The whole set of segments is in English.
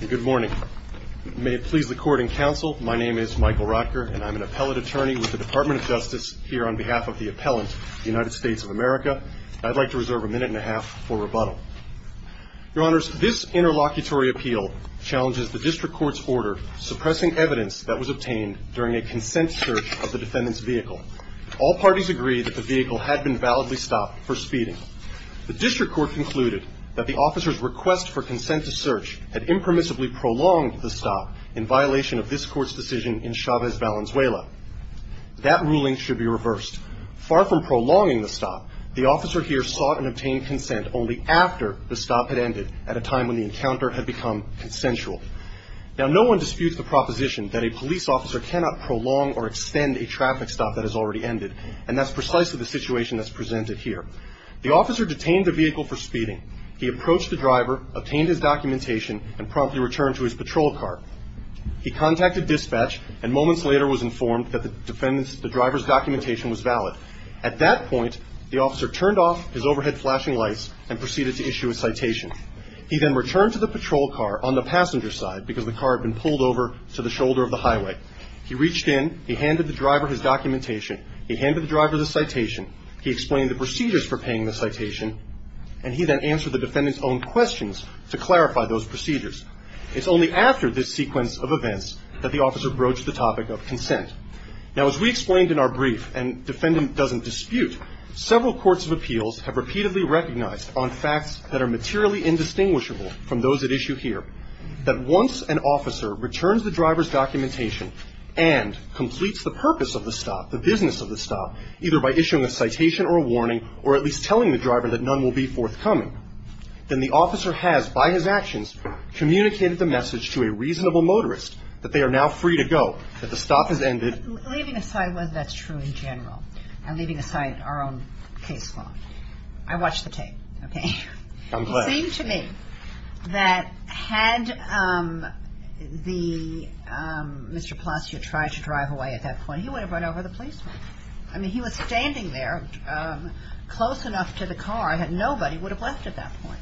Good morning. May it please the court and counsel, my name is Michael Rotker and I'm an appellate attorney with the Department of Justice here on behalf of the appellant, United States of America. I'd like to reserve a minute and a half for rebuttal. Your honors, this interlocutory appeal challenges the district court's order suppressing evidence that was obtained during a consent search of the defendant's vehicle. All parties agree that the vehicle had been validly stopped for speeding. The district court concluded that the officer's request for consent to search had impermissibly prolonged the stop in violation of this court's decision in Chavez Valenzuela. That ruling should be reversed. Far from prolonging the stop, the officer here sought and obtained consent only after the stop had ended at a time when the encounter had become consensual. Now, no one disputes the proposition that a police officer cannot prolong or extend a traffic stop that has already ended, and that's precisely the situation that's presented here. The officer detained the vehicle for speeding. He approached the driver, obtained his documentation, and promptly returned to his patrol car. He contacted dispatch and moments later was informed that the driver's documentation was valid. At that point, the officer turned off his overhead flashing lights and proceeded to issue a citation. He then returned to the patrol car on the passenger side because the car had been pulled over to the shoulder of the highway. He reached in, he handed the driver his documentation, he handed the driver the citation, he explained the procedures for paying the citation, and he then answered the defendant's own questions to clarify those procedures. It's only after this sequence of events that the officer broached the topic of consent. Now, as we explained in our brief, and defendant doesn't dispute, several courts of appeals have repeatedly recognized on facts that are materially indistinguishable from those at issue here, that once an officer returns the driver's documentation and completes the purpose of the stop, the business of the stop, either by issuing a citation or a warning or at least telling the driver that none will be forthcoming, then the officer has, by his actions, communicated the message to a reasonable motorist that they are now free to go, that the stop has ended. Leaving aside whether that's true in general and leaving aside our own case law, I watched the tape, okay? I'm glad. It seemed to me that had the, Mr. Palacios tried to drive away at that point, he would have run over the policeman. I mean, he was standing there close enough to the car that nobody would have left at that point.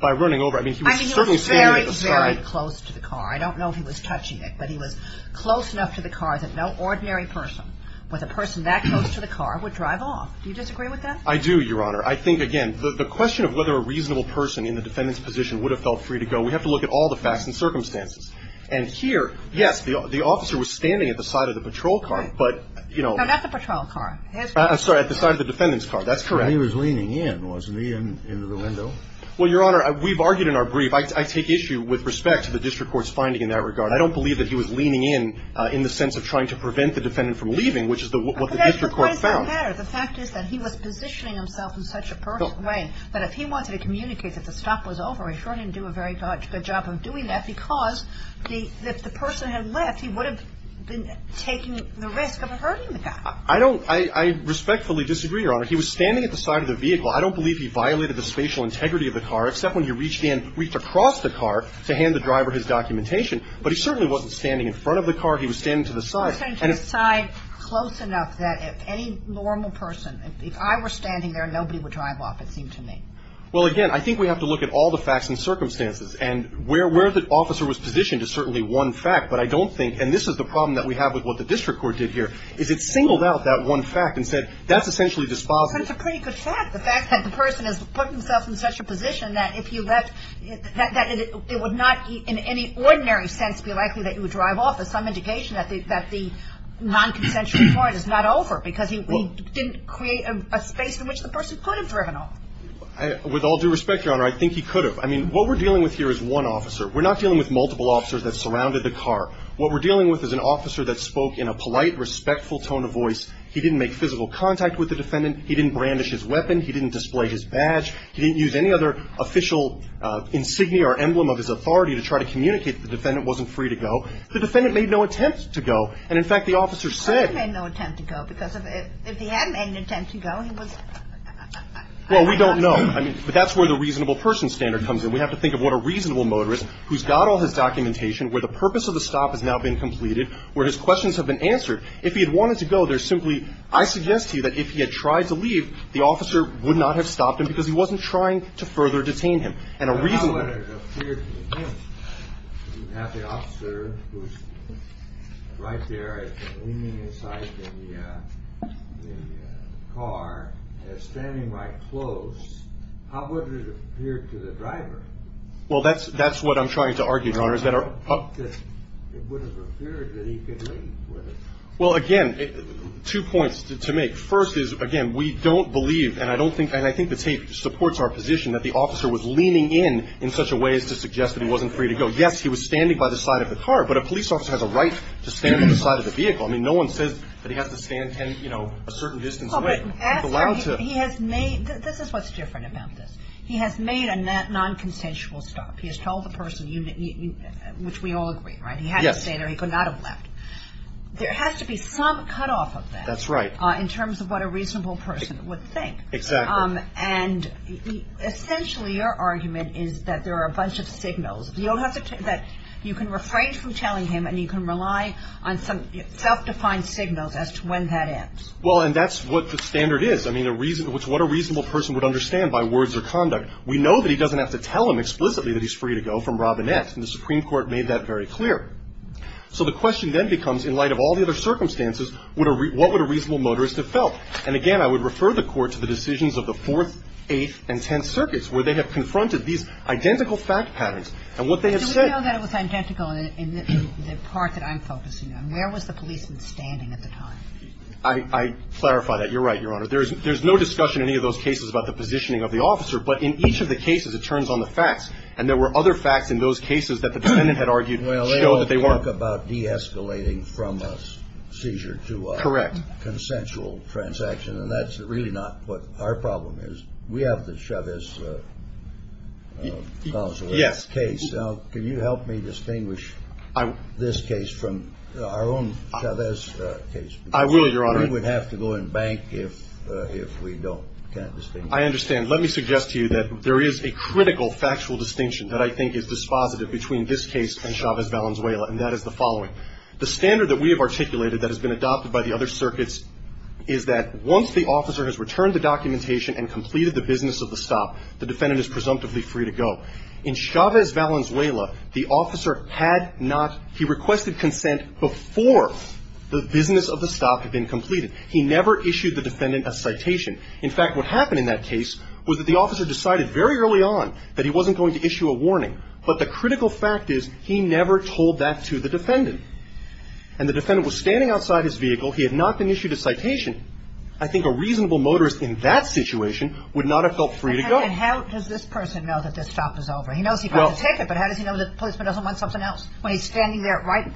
By running over, I mean, he was certainly standing at the stop. I mean, he was very, very close to the car. I don't know if he was touching it, but he was close enough to the car that no ordinary person with a person that close to the car would drive off. Do you disagree with that? I do, Your Honor. I think, again, the question of whether a reasonable person in the defendant's position would have felt free to go, we have to look at all the facts and circumstances. And here, yes, the officer was standing at the side of the patrol car, but, you know. No, not the patrol car. I'm sorry, at the side of the defendant's car. That's correct. And he was leaning in, wasn't he, into the window? Well, Your Honor, we've argued in our brief. I take issue with respect to the district court's finding in that regard. I don't believe that he was leaning in in the sense of trying to prevent the defendant from leaving, which is what the district court found. But that's the point of the matter. The fact is that he was positioning himself in such a personal way that if he wanted to communicate that the stop was over, he certainly didn't do a very good job of doing that because if the person had left, he would have been taking the risk of hurting the guy. I don't – I respectfully disagree, Your Honor. He was standing at the side of the vehicle. I don't believe he violated the spatial integrity of the car, except when he reached in, reached across the car to hand the driver his documentation. But he certainly wasn't standing in front of the car. He was standing to the side. He was standing to the side close enough that if any normal person – if I were standing there, nobody would drive off, it seemed to me. Well, again, I think we have to look at all the facts and circumstances. And where the officer was positioned is certainly one fact, but I don't think – and this is the problem that we have with what the district court did here is it singled out that one fact and said that's essentially dispositive. But it's a pretty good fact, the fact that the person has put himself in such a position that if you left, that it would not in any ordinary sense be likely that you would drive off as some indication that the non-consensual point is not over because he didn't create a space in which the person could have driven off. With all due respect, Your Honor, I think he could have. I mean, what we're dealing with here is one officer. We're not dealing with multiple officers that surrounded the car. What we're dealing with is an officer that spoke in a polite, respectful tone of voice. He didn't make physical contact with the defendant. He didn't brandish his weapon. He didn't display his badge. He didn't use any other official insignia or emblem of his authority to try to communicate that the defendant wasn't free to go. The defendant made no attempt to go. And, in fact, the officer said – He made no attempt to go because if he had made an attempt to go, he was – Well, we don't know. I mean, but that's where the reasonable person standard comes in. We have to think of what a reasonable motorist who's got all his documentation, where the purpose of the stop has now been completed, where his questions have been answered. If he had wanted to go, there's simply – I suggest to you that if he had tried to leave, the officer would not have stopped him because he wasn't trying to further detain him. And a reasonable – Well, that's – that's what I'm trying to argue, Your Honor, is that our – Well, again, two points to make. First is, again, we don't believe, and I don't think – and I think the tape supports our position, that the officer was leaning in in such a way as to suggest that he wasn't free to go. Yes, he was standing by the side of the car, but a police officer has a right to stand at the side of the vehicle. I mean, no one says that he has to stand, you know, a certain distance away. He has made – this is what's different about this. He has made a non-consensual stop. He has told the person, which we all agree, right? He had to stay there. He could not have left. There has to be some cutoff of that. That's right. In terms of what a reasonable person would think. Exactly. And essentially, your argument is that there are a bunch of signals. You don't have to – that you can refrain from telling him, and you can rely on some self-defined signals as to when that ends. Well, and that's what the standard is. I mean, what a reasonable person would understand by words or conduct. We know that he doesn't have to tell him explicitly that he's free to go from Robinette, and the Supreme Court made that very clear. So the question then becomes, in light of all the other circumstances, what would a reasonable motorist have felt? And again, I would refer the Court to the decisions of the Fourth, Eighth, and Tenth Circuits, where they have confronted these identical fact patterns. And what they have said – So we know that it was identical in the part that I'm focusing on. Where was the policeman standing at the time? I clarify that. You're right, Your Honor. There's no discussion in any of those cases about the positioning of the officer. But in each of the cases, it turns on the facts. And there were other facts in those cases that the defendant had argued show that they weren't. Well, they all talk about de-escalating from a seizure to a – Correct. Consensual transaction. And that's really not what our problem is. We have the Chavez-Consuelos case. Yes. Now, can you help me distinguish this case from our own Chavez case? I will, Your Honor. We would have to go and bank if we don't. Can't distinguish. I understand. Let me suggest to you that there is a critical factual distinction that I think is dispositive between this case and Chavez-Valenzuela, and that is the following. The standard that we have articulated that has been adopted by the other circuits is that once the officer has returned the documentation and completed the business of the stop, the defendant is presumptively free to go. In Chavez-Valenzuela, the officer had not – he requested consent before the business of the stop had been completed. He never issued the defendant a citation. In fact, what happened in that case was that the officer decided very early on that he wasn't going to issue a warning. But the critical fact is he never told that to the defendant. And the defendant was standing outside his vehicle. He had not been issued a citation. I think a reasonable motorist in that situation would not have felt free to go. And how does this person know that this stop is over? He knows he got the ticket, but how does he know the policeman doesn't want something else when he's standing there right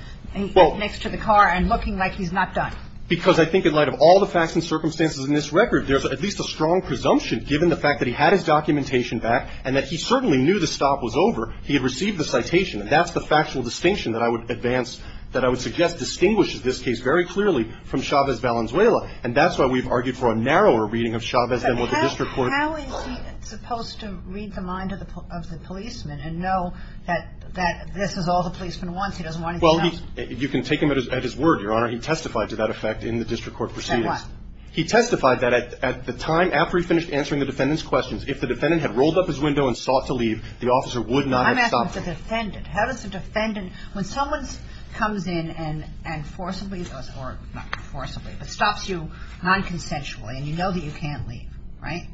next to the car and looking like he's not done? Because I think in light of all the facts and circumstances in this record, there's at least a strong presumption, given the fact that he had his documentation back and that he certainly knew the stop was over, he had received the citation. And that's the factual distinction that I would advance – that I would suggest distinguishes this case very clearly from Chavez-Valenzuela. And that's why we've argued for a narrower reading of Chavez than what the district court – But how is he supposed to read the mind of the policeman and know that this is all the policeman wants? He doesn't want anything else. Well, he – you can take him at his word, Your Honor. He testified to that effect in the district court proceedings. Said what? He testified that at the time after he finished answering the defendant's questions, if the defendant had rolled up his window and sought to leave, the officer would not have stopped him. I'm asking the defendant. How does the defendant – when someone comes in and forcibly – or not forcibly, but stops you non-consensually and you know that you can't leave, right?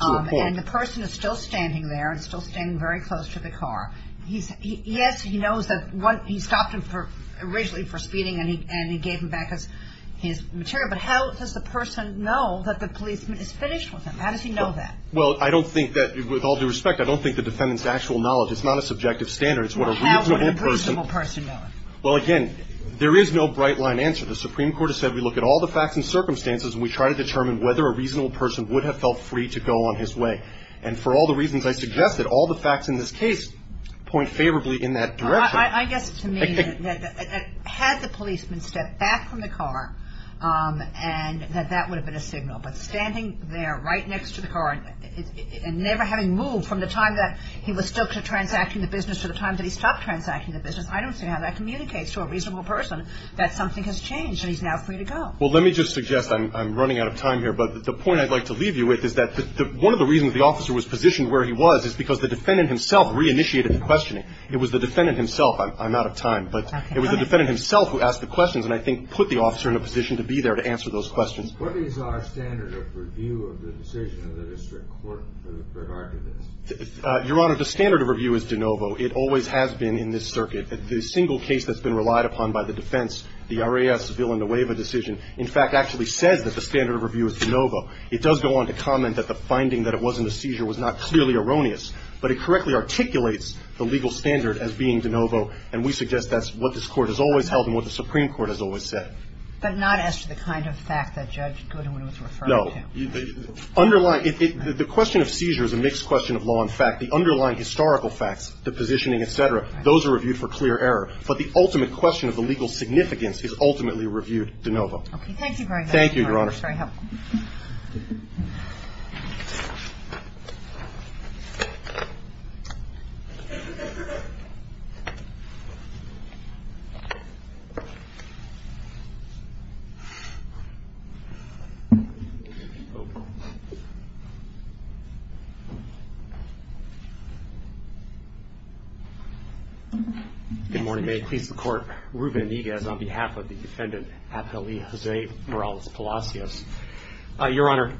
To a point. And the person is still standing there and still standing very close to the car. Yes, he knows that he stopped him originally for speeding and he gave him back his material. But how does the person know that the policeman is finished with him? How does he know that? Well, I don't think that – with all due respect, I don't think the defendant's actual knowledge. It's not a subjective standard. It's what a reasonable person – Well, how would a reasonable person know it? Well, again, there is no bright-line answer. The Supreme Court has said we look at all the facts and circumstances and we try to determine whether a reasonable person would have felt free to go on his way. And for all the reasons I suggested, all the facts in this case point favorably in that direction. I guess to me that had the policeman stepped back from the car and that that would have been a signal. But standing there right next to the car and never having moved from the time that he was still transacting the business to the time that he stopped transacting the business, I don't see how that communicates to a reasonable person that something has changed and he's now free to go. Well, let me just suggest – I'm running out of time here – but the point I'd like to leave you with is that one of the reasons the officer was positioned where he was is because the defendant himself re-initiated the questioning. It was the defendant himself – I'm out of time – but it was the defendant himself who asked the questions and I think put the officer in a position to be there to answer those questions. What is our standard of review of the decision of the district court for the pre-arguments? Your Honor, the standard of review is de novo. It always has been in this circuit. The single case that's been relied upon by the defense, the RAS Villanueva decision, in fact actually says that the standard of review is de novo. It does go on to comment that the finding that it wasn't a seizure was not clearly erroneous, but it correctly articulates the legal standard as being de novo and we suggest that's what this Court has always held and what the Supreme Court has always said. But not as to the kind of fact that Judge Goodwin was referring to? No. Underlying – the question of seizure is a mixed question of law and fact. The underlying historical facts, the positioning, et cetera, those are reviewed for clear error, but the ultimate question of the legal significance is ultimately reviewed de novo. Thank you very much, Your Honor. Thank you, Your Honor. Thank you very much for your help. Good morning. Good morning, Your Honor. Ruben Iniguez on behalf of the defendant, Aptely Jose Morales Palacios. Your Honor,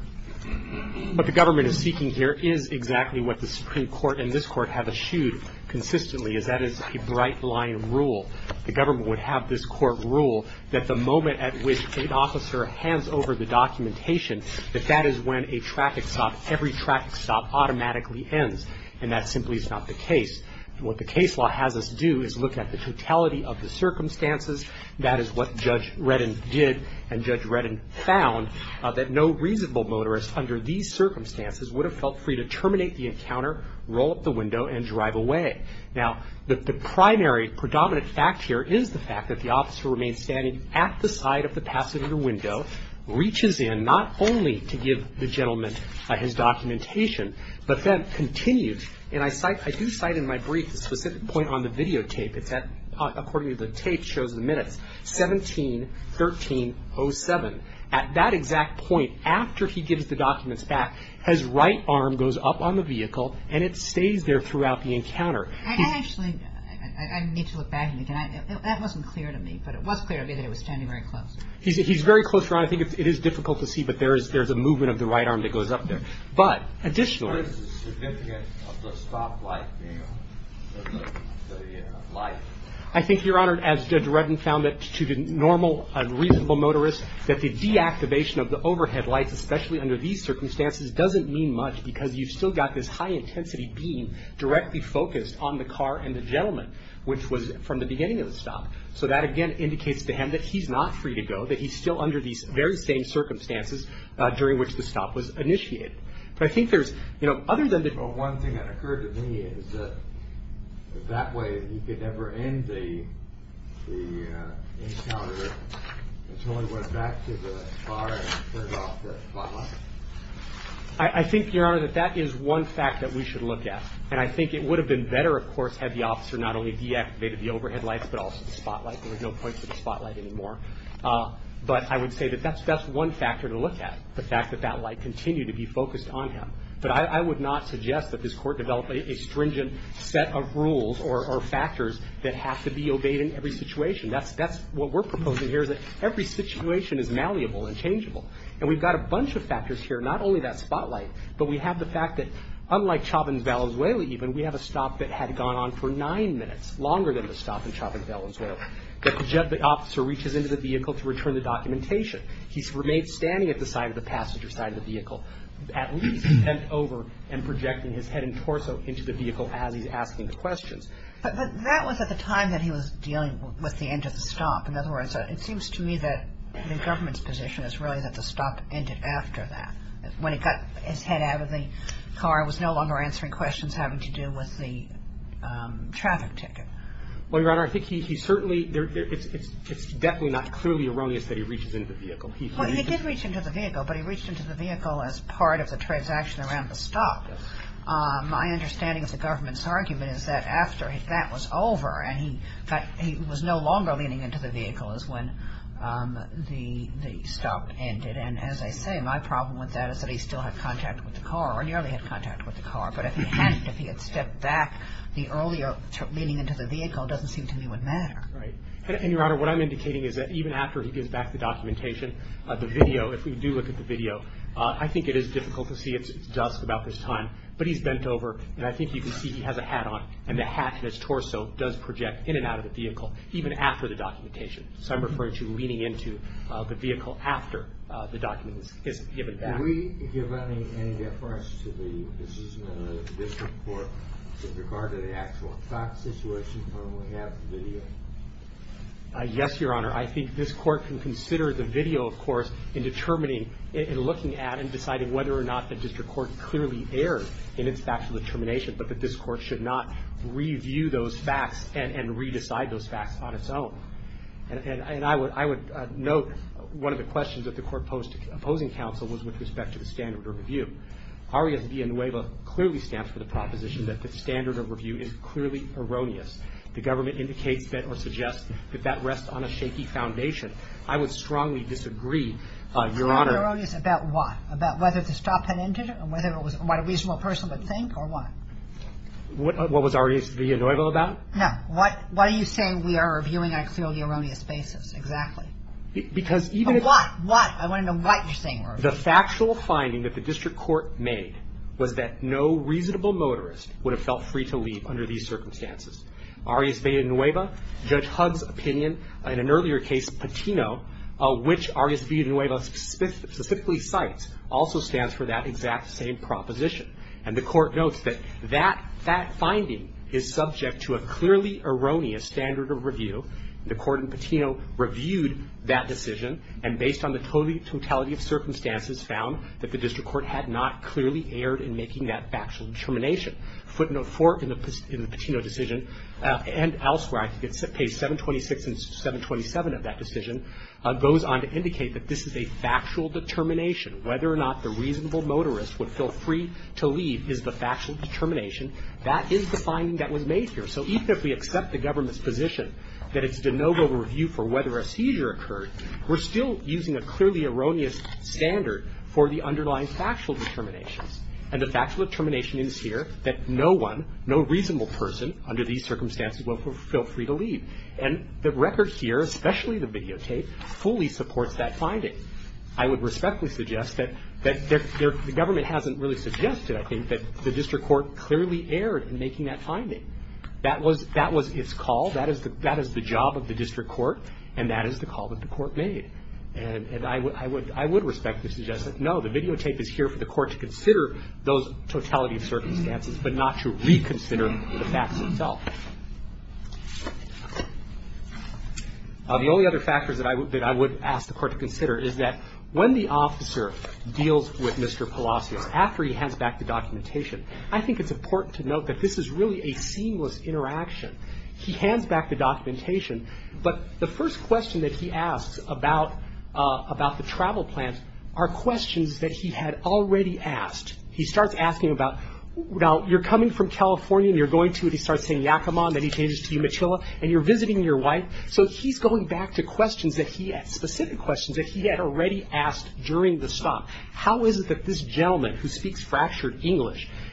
what the government is seeking here is exactly what the Supreme Court and this Court have eschewed consistently, is that it's a bright-line rule. The government would have this court rule that the moment at which an officer hands over the documentation, that that is when a traffic stop, every traffic stop, automatically ends, and that simply is not the case. What the case law has us do is look at the totality of the circumstances. That is what Judge Reddin did, and Judge Reddin found that no reasonable motorist under these circumstances would have felt free to terminate the encounter, roll up the window, and drive away. Now, the primary predominant fact here is the fact that the officer remains standing at the side of the passenger window, reaches in, not only to give the gentleman his documentation, but then continues, and I cite, I do cite in my brief the specific point on the videotape. It's at, according to the tape, it shows the minutes, 17-13-07. At that exact point, after he gives the documents back, his right arm goes up on the vehicle, and it stays there throughout the encounter. I actually, I need to look back on it. That wasn't clear to me, but it was clear to me that he was standing very close. He's very close, Your Honor. I think it is difficult to see, but there is a movement of the right arm that goes up there. But, additionally. What is the significance of the stop light being on? The light. I think, Your Honor, as Judge Reddin found it, to the normal, reasonable motorist, that the deactivation of the overhead lights, especially under these circumstances, doesn't mean much because you've still got this high-intensity beam directly focused on the car and the gentleman, which was from the beginning of the stop. So that, again, indicates to him that he's not free to go, that he's still under these very same circumstances during which the stop was initiated. But I think there's, you know, other than the. Well, one thing that occurred to me is that that way he could never end the encounter until he went back to the car and turned off the spotlight. I think, Your Honor, that that is one fact that we should look at. And I think it would have been better, of course, had the officer not only deactivated the overhead lights but also the spotlight. There was no point for the spotlight anymore. But I would say that that's one factor to look at, the fact that that light continued to be focused on him. But I would not suggest that this Court develop a stringent set of rules or factors that have to be obeyed in every situation. That's what we're proposing here is that every situation is malleable and changeable. And we've got a bunch of factors here, not only that spotlight, but we have the fact that, unlike Chauvin's Valenzuela even, we have a stop that had gone on for nine minutes, longer than the stop in Chauvin's Valenzuela, that the officer reaches into the vehicle to return the documentation. He's remained standing at the side of the passenger side of the vehicle at least, bent over and projecting his head and torso into the vehicle as he's asking the questions. But that was at the time that he was dealing with the end of the stop. In other words, it seems to me that the government's position is really that the stop ended after that, when he got his head out of the car, was no longer answering questions having to do with the traffic ticket. Well, Your Honor, I think he certainly – it's definitely not clearly erroneous that he reaches into the vehicle. Well, he did reach into the vehicle, but he reached into the vehicle as part of the transaction around the stop. My understanding of the government's argument is that after that was over and he was no longer leaning into the vehicle is when the stop ended. And as I say, my problem with that is that he still had contact with the car, nearly had contact with the car, but if he had, if he had stepped back, the earlier leaning into the vehicle doesn't seem to me would matter. Right. And, Your Honor, what I'm indicating is that even after he gives back the documentation, the video, if we do look at the video, I think it is difficult to see. It's dusk about this time. But he's bent over, and I think you can see he has a hat on, and the hat and his torso does project in and out of the vehicle, even after the documentation. So I'm referring to leaning into the vehicle after the document is given back. Did we give any reference to the decision of the district court with regard to the actual fact situation when we have the video? Yes, Your Honor. I think this court can consider the video, of course, in determining, in looking at and deciding whether or not the district court clearly erred in its factual determination, but that this court should not review those facts and re-decide those facts on its own. And I would note one of the questions that the court posed to opposing counsel was with respect to the standard of review. Arias Villanueva clearly stands for the proposition that the standard of review is clearly erroneous. The government indicates that or suggests that that rests on a shaky foundation. I would strongly disagree, Your Honor. Erroneous about what? About whether the stop had ended and whether it was what a reasonable person would think, or what? What was Arias Villanueva about? No. What are you saying we are reviewing on a clearly erroneous basis? Exactly. But what? What? I want to know what you're saying we're reviewing. The factual finding that the district court made was that no reasonable motorist would have felt free to leave under these circumstances. Arias Villanueva, Judge Hugg's opinion, in an earlier case, Patino, which Arias Villanueva specifically cites, also stands for that exact same proposition. And the court notes that that finding is subject to a clearly erroneous standard of review. The court in Patino reviewed that decision, and based on the totality of circumstances, found that the district court had not clearly erred in making that factual determination. Footnote 4 in the Patino decision, and elsewhere, I think it's page 726 and 727 of that decision, goes on to indicate that this is a factual determination. Whether or not the reasonable motorist would feel free to leave is the factual determination. That is the finding that was made here. So even if we accept the government's position that it's de novo review for whether a seizure occurred, we're still using a clearly erroneous standard for the underlying factual determinations. And the factual determination is here that no one, no reasonable person under these circumstances will feel free to leave. And the record here, especially the videotape, fully supports that finding. I would respectfully suggest that the government hasn't really suggested, I think, that the district court clearly erred in making that finding. That was its call. That is the job of the district court, and that is the call that the court made. And I would respectfully suggest that, no, the videotape is here for the court to consider those totality of circumstances, but not to reconsider the facts themselves. The only other factors that I would ask the court to consider is that when the officer deals with Mr. Palacios, after he hands back the documentation, I think it's important to note that this is really a seamless interaction. He hands back the documentation, but the first question that he asks about the travel plans are questions that he had already asked. He starts asking about, well, you're coming from California, and you're going to, and he starts saying Yakima, and then he changes to Umatilla, and you're visiting your wife. So he's going back to questions that he had, specific questions that he had already asked during the stop.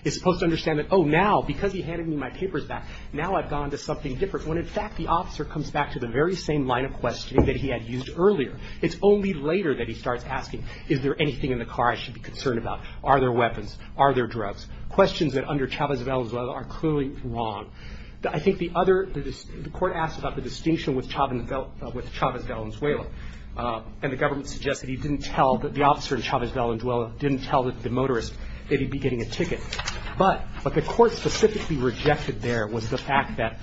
And then, oh, now, because he handed me my papers back, now I've gone to something different, when, in fact, the officer comes back to the very same line of questioning that he had used earlier. It's only later that he starts asking, is there anything in the car I should be concerned about? Are there weapons? Are there drugs? Questions that, under Chavez Valenzuela, are clearly wrong. I think the other, the court asked about the distinction with Chavez Valenzuela, and the government suggests that he didn't tell, that the officer in Chavez Valenzuela didn't tell the motorist that he'd be getting a ticket. But what the court specifically rejected there was the fact that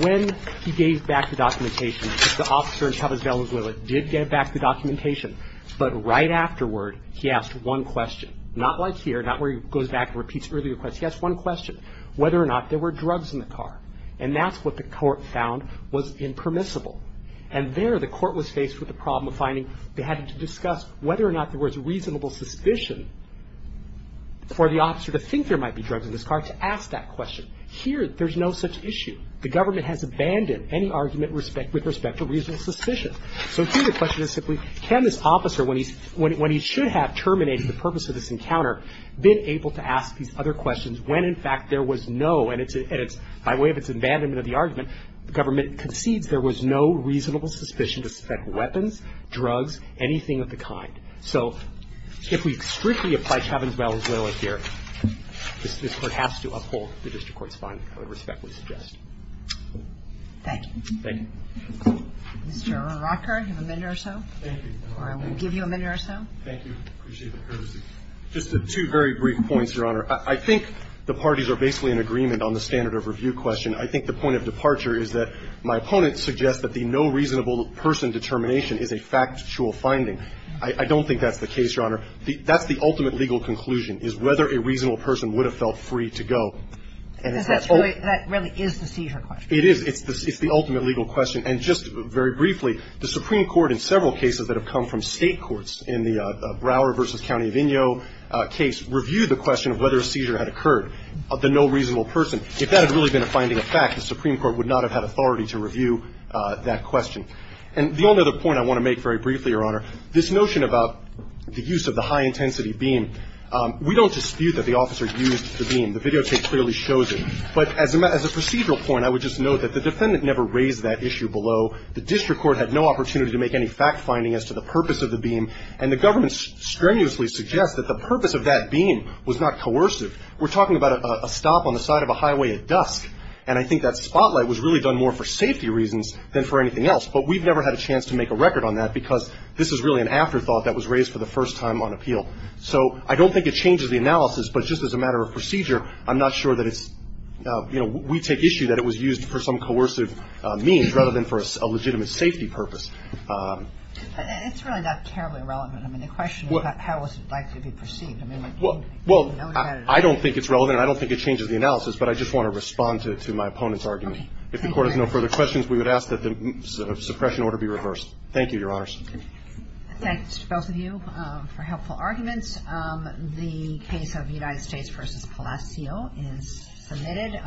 when he gave back the documentation, the officer in Chavez Valenzuela did give back the documentation, but right afterward, he asked one question. Not like here, not where he goes back and repeats earlier questions. He asked one question, whether or not there were drugs in the car. And that's what the court found was impermissible. And there, the court was faced with the problem of finding, they had to discuss whether or not there was reasonable suspicion for the officer to think there might be drugs in his car to ask that question. Here, there's no such issue. The government has abandoned any argument with respect to reasonable suspicion. So here, the question is simply, can this officer, when he should have terminated the purpose of this encounter, been able to ask these other questions when, in fact, there was no, and it's, by way of its abandonment of the argument, the government concedes there was no reasonable suspicion to suspect weapons, drugs, anything of the kind. So if we strictly apply Chavez Valenzuela here, this Court has to uphold the district court's finding, I would respectfully suggest. Thank you. Thank you. Mr. Rocker, you have a minute or so. Thank you. Or I will give you a minute or so. Thank you. I appreciate the courtesy. Just two very brief points, Your Honor. I think the parties are basically in agreement on the standard of review question. I think the point of departure is that my opponent suggests that the no reasonable person determination is a factual finding. I don't think that's the case, Your Honor. That's the ultimate legal conclusion, is whether a reasonable person would have felt free to go. And is that all? Because that really is the seizure question. It is. It's the ultimate legal question. And just very briefly, the Supreme Court in several cases that have come from State courts in the Brouwer v. County of Inyo case reviewed the question of whether a seizure had occurred. The no reasonable person, if that had really been a finding of fact, the Supreme Court would not have had authority to review that question. And the only other point I want to make very briefly, Your Honor, this notion about the use of the high intensity beam, we don't dispute that the officer used the beam. The videotape clearly shows it. But as a procedural point, I would just note that the defendant never raised that issue below. The district court had no opportunity to make any fact finding as to the purpose of the beam. And the government strenuously suggests that the purpose of that beam was not coercive. We're talking about a stop on the side of a highway at dusk. And I think that spotlight was really done more for safety reasons than for anything else. But we've never had a chance to make a record on that because this is really an afterthought that was raised for the first time on appeal. So I don't think it changes the analysis. But just as a matter of procedure, I'm not sure that it's, you know, we take issue that it was used for some coercive means rather than for a legitimate safety purpose. Kagan. It's really not terribly relevant. I mean, the question is how was it likely to be perceived. I mean, you know that. Well, I don't think it's relevant. I don't think it changes the analysis. But I just want to respond to my opponent's argument. If the Court has no further questions, we would ask that the suppression order be reversed. Thank you, Your Honors. Thanks to both of you for helpful arguments. The case of United States v. Palacio is submitted.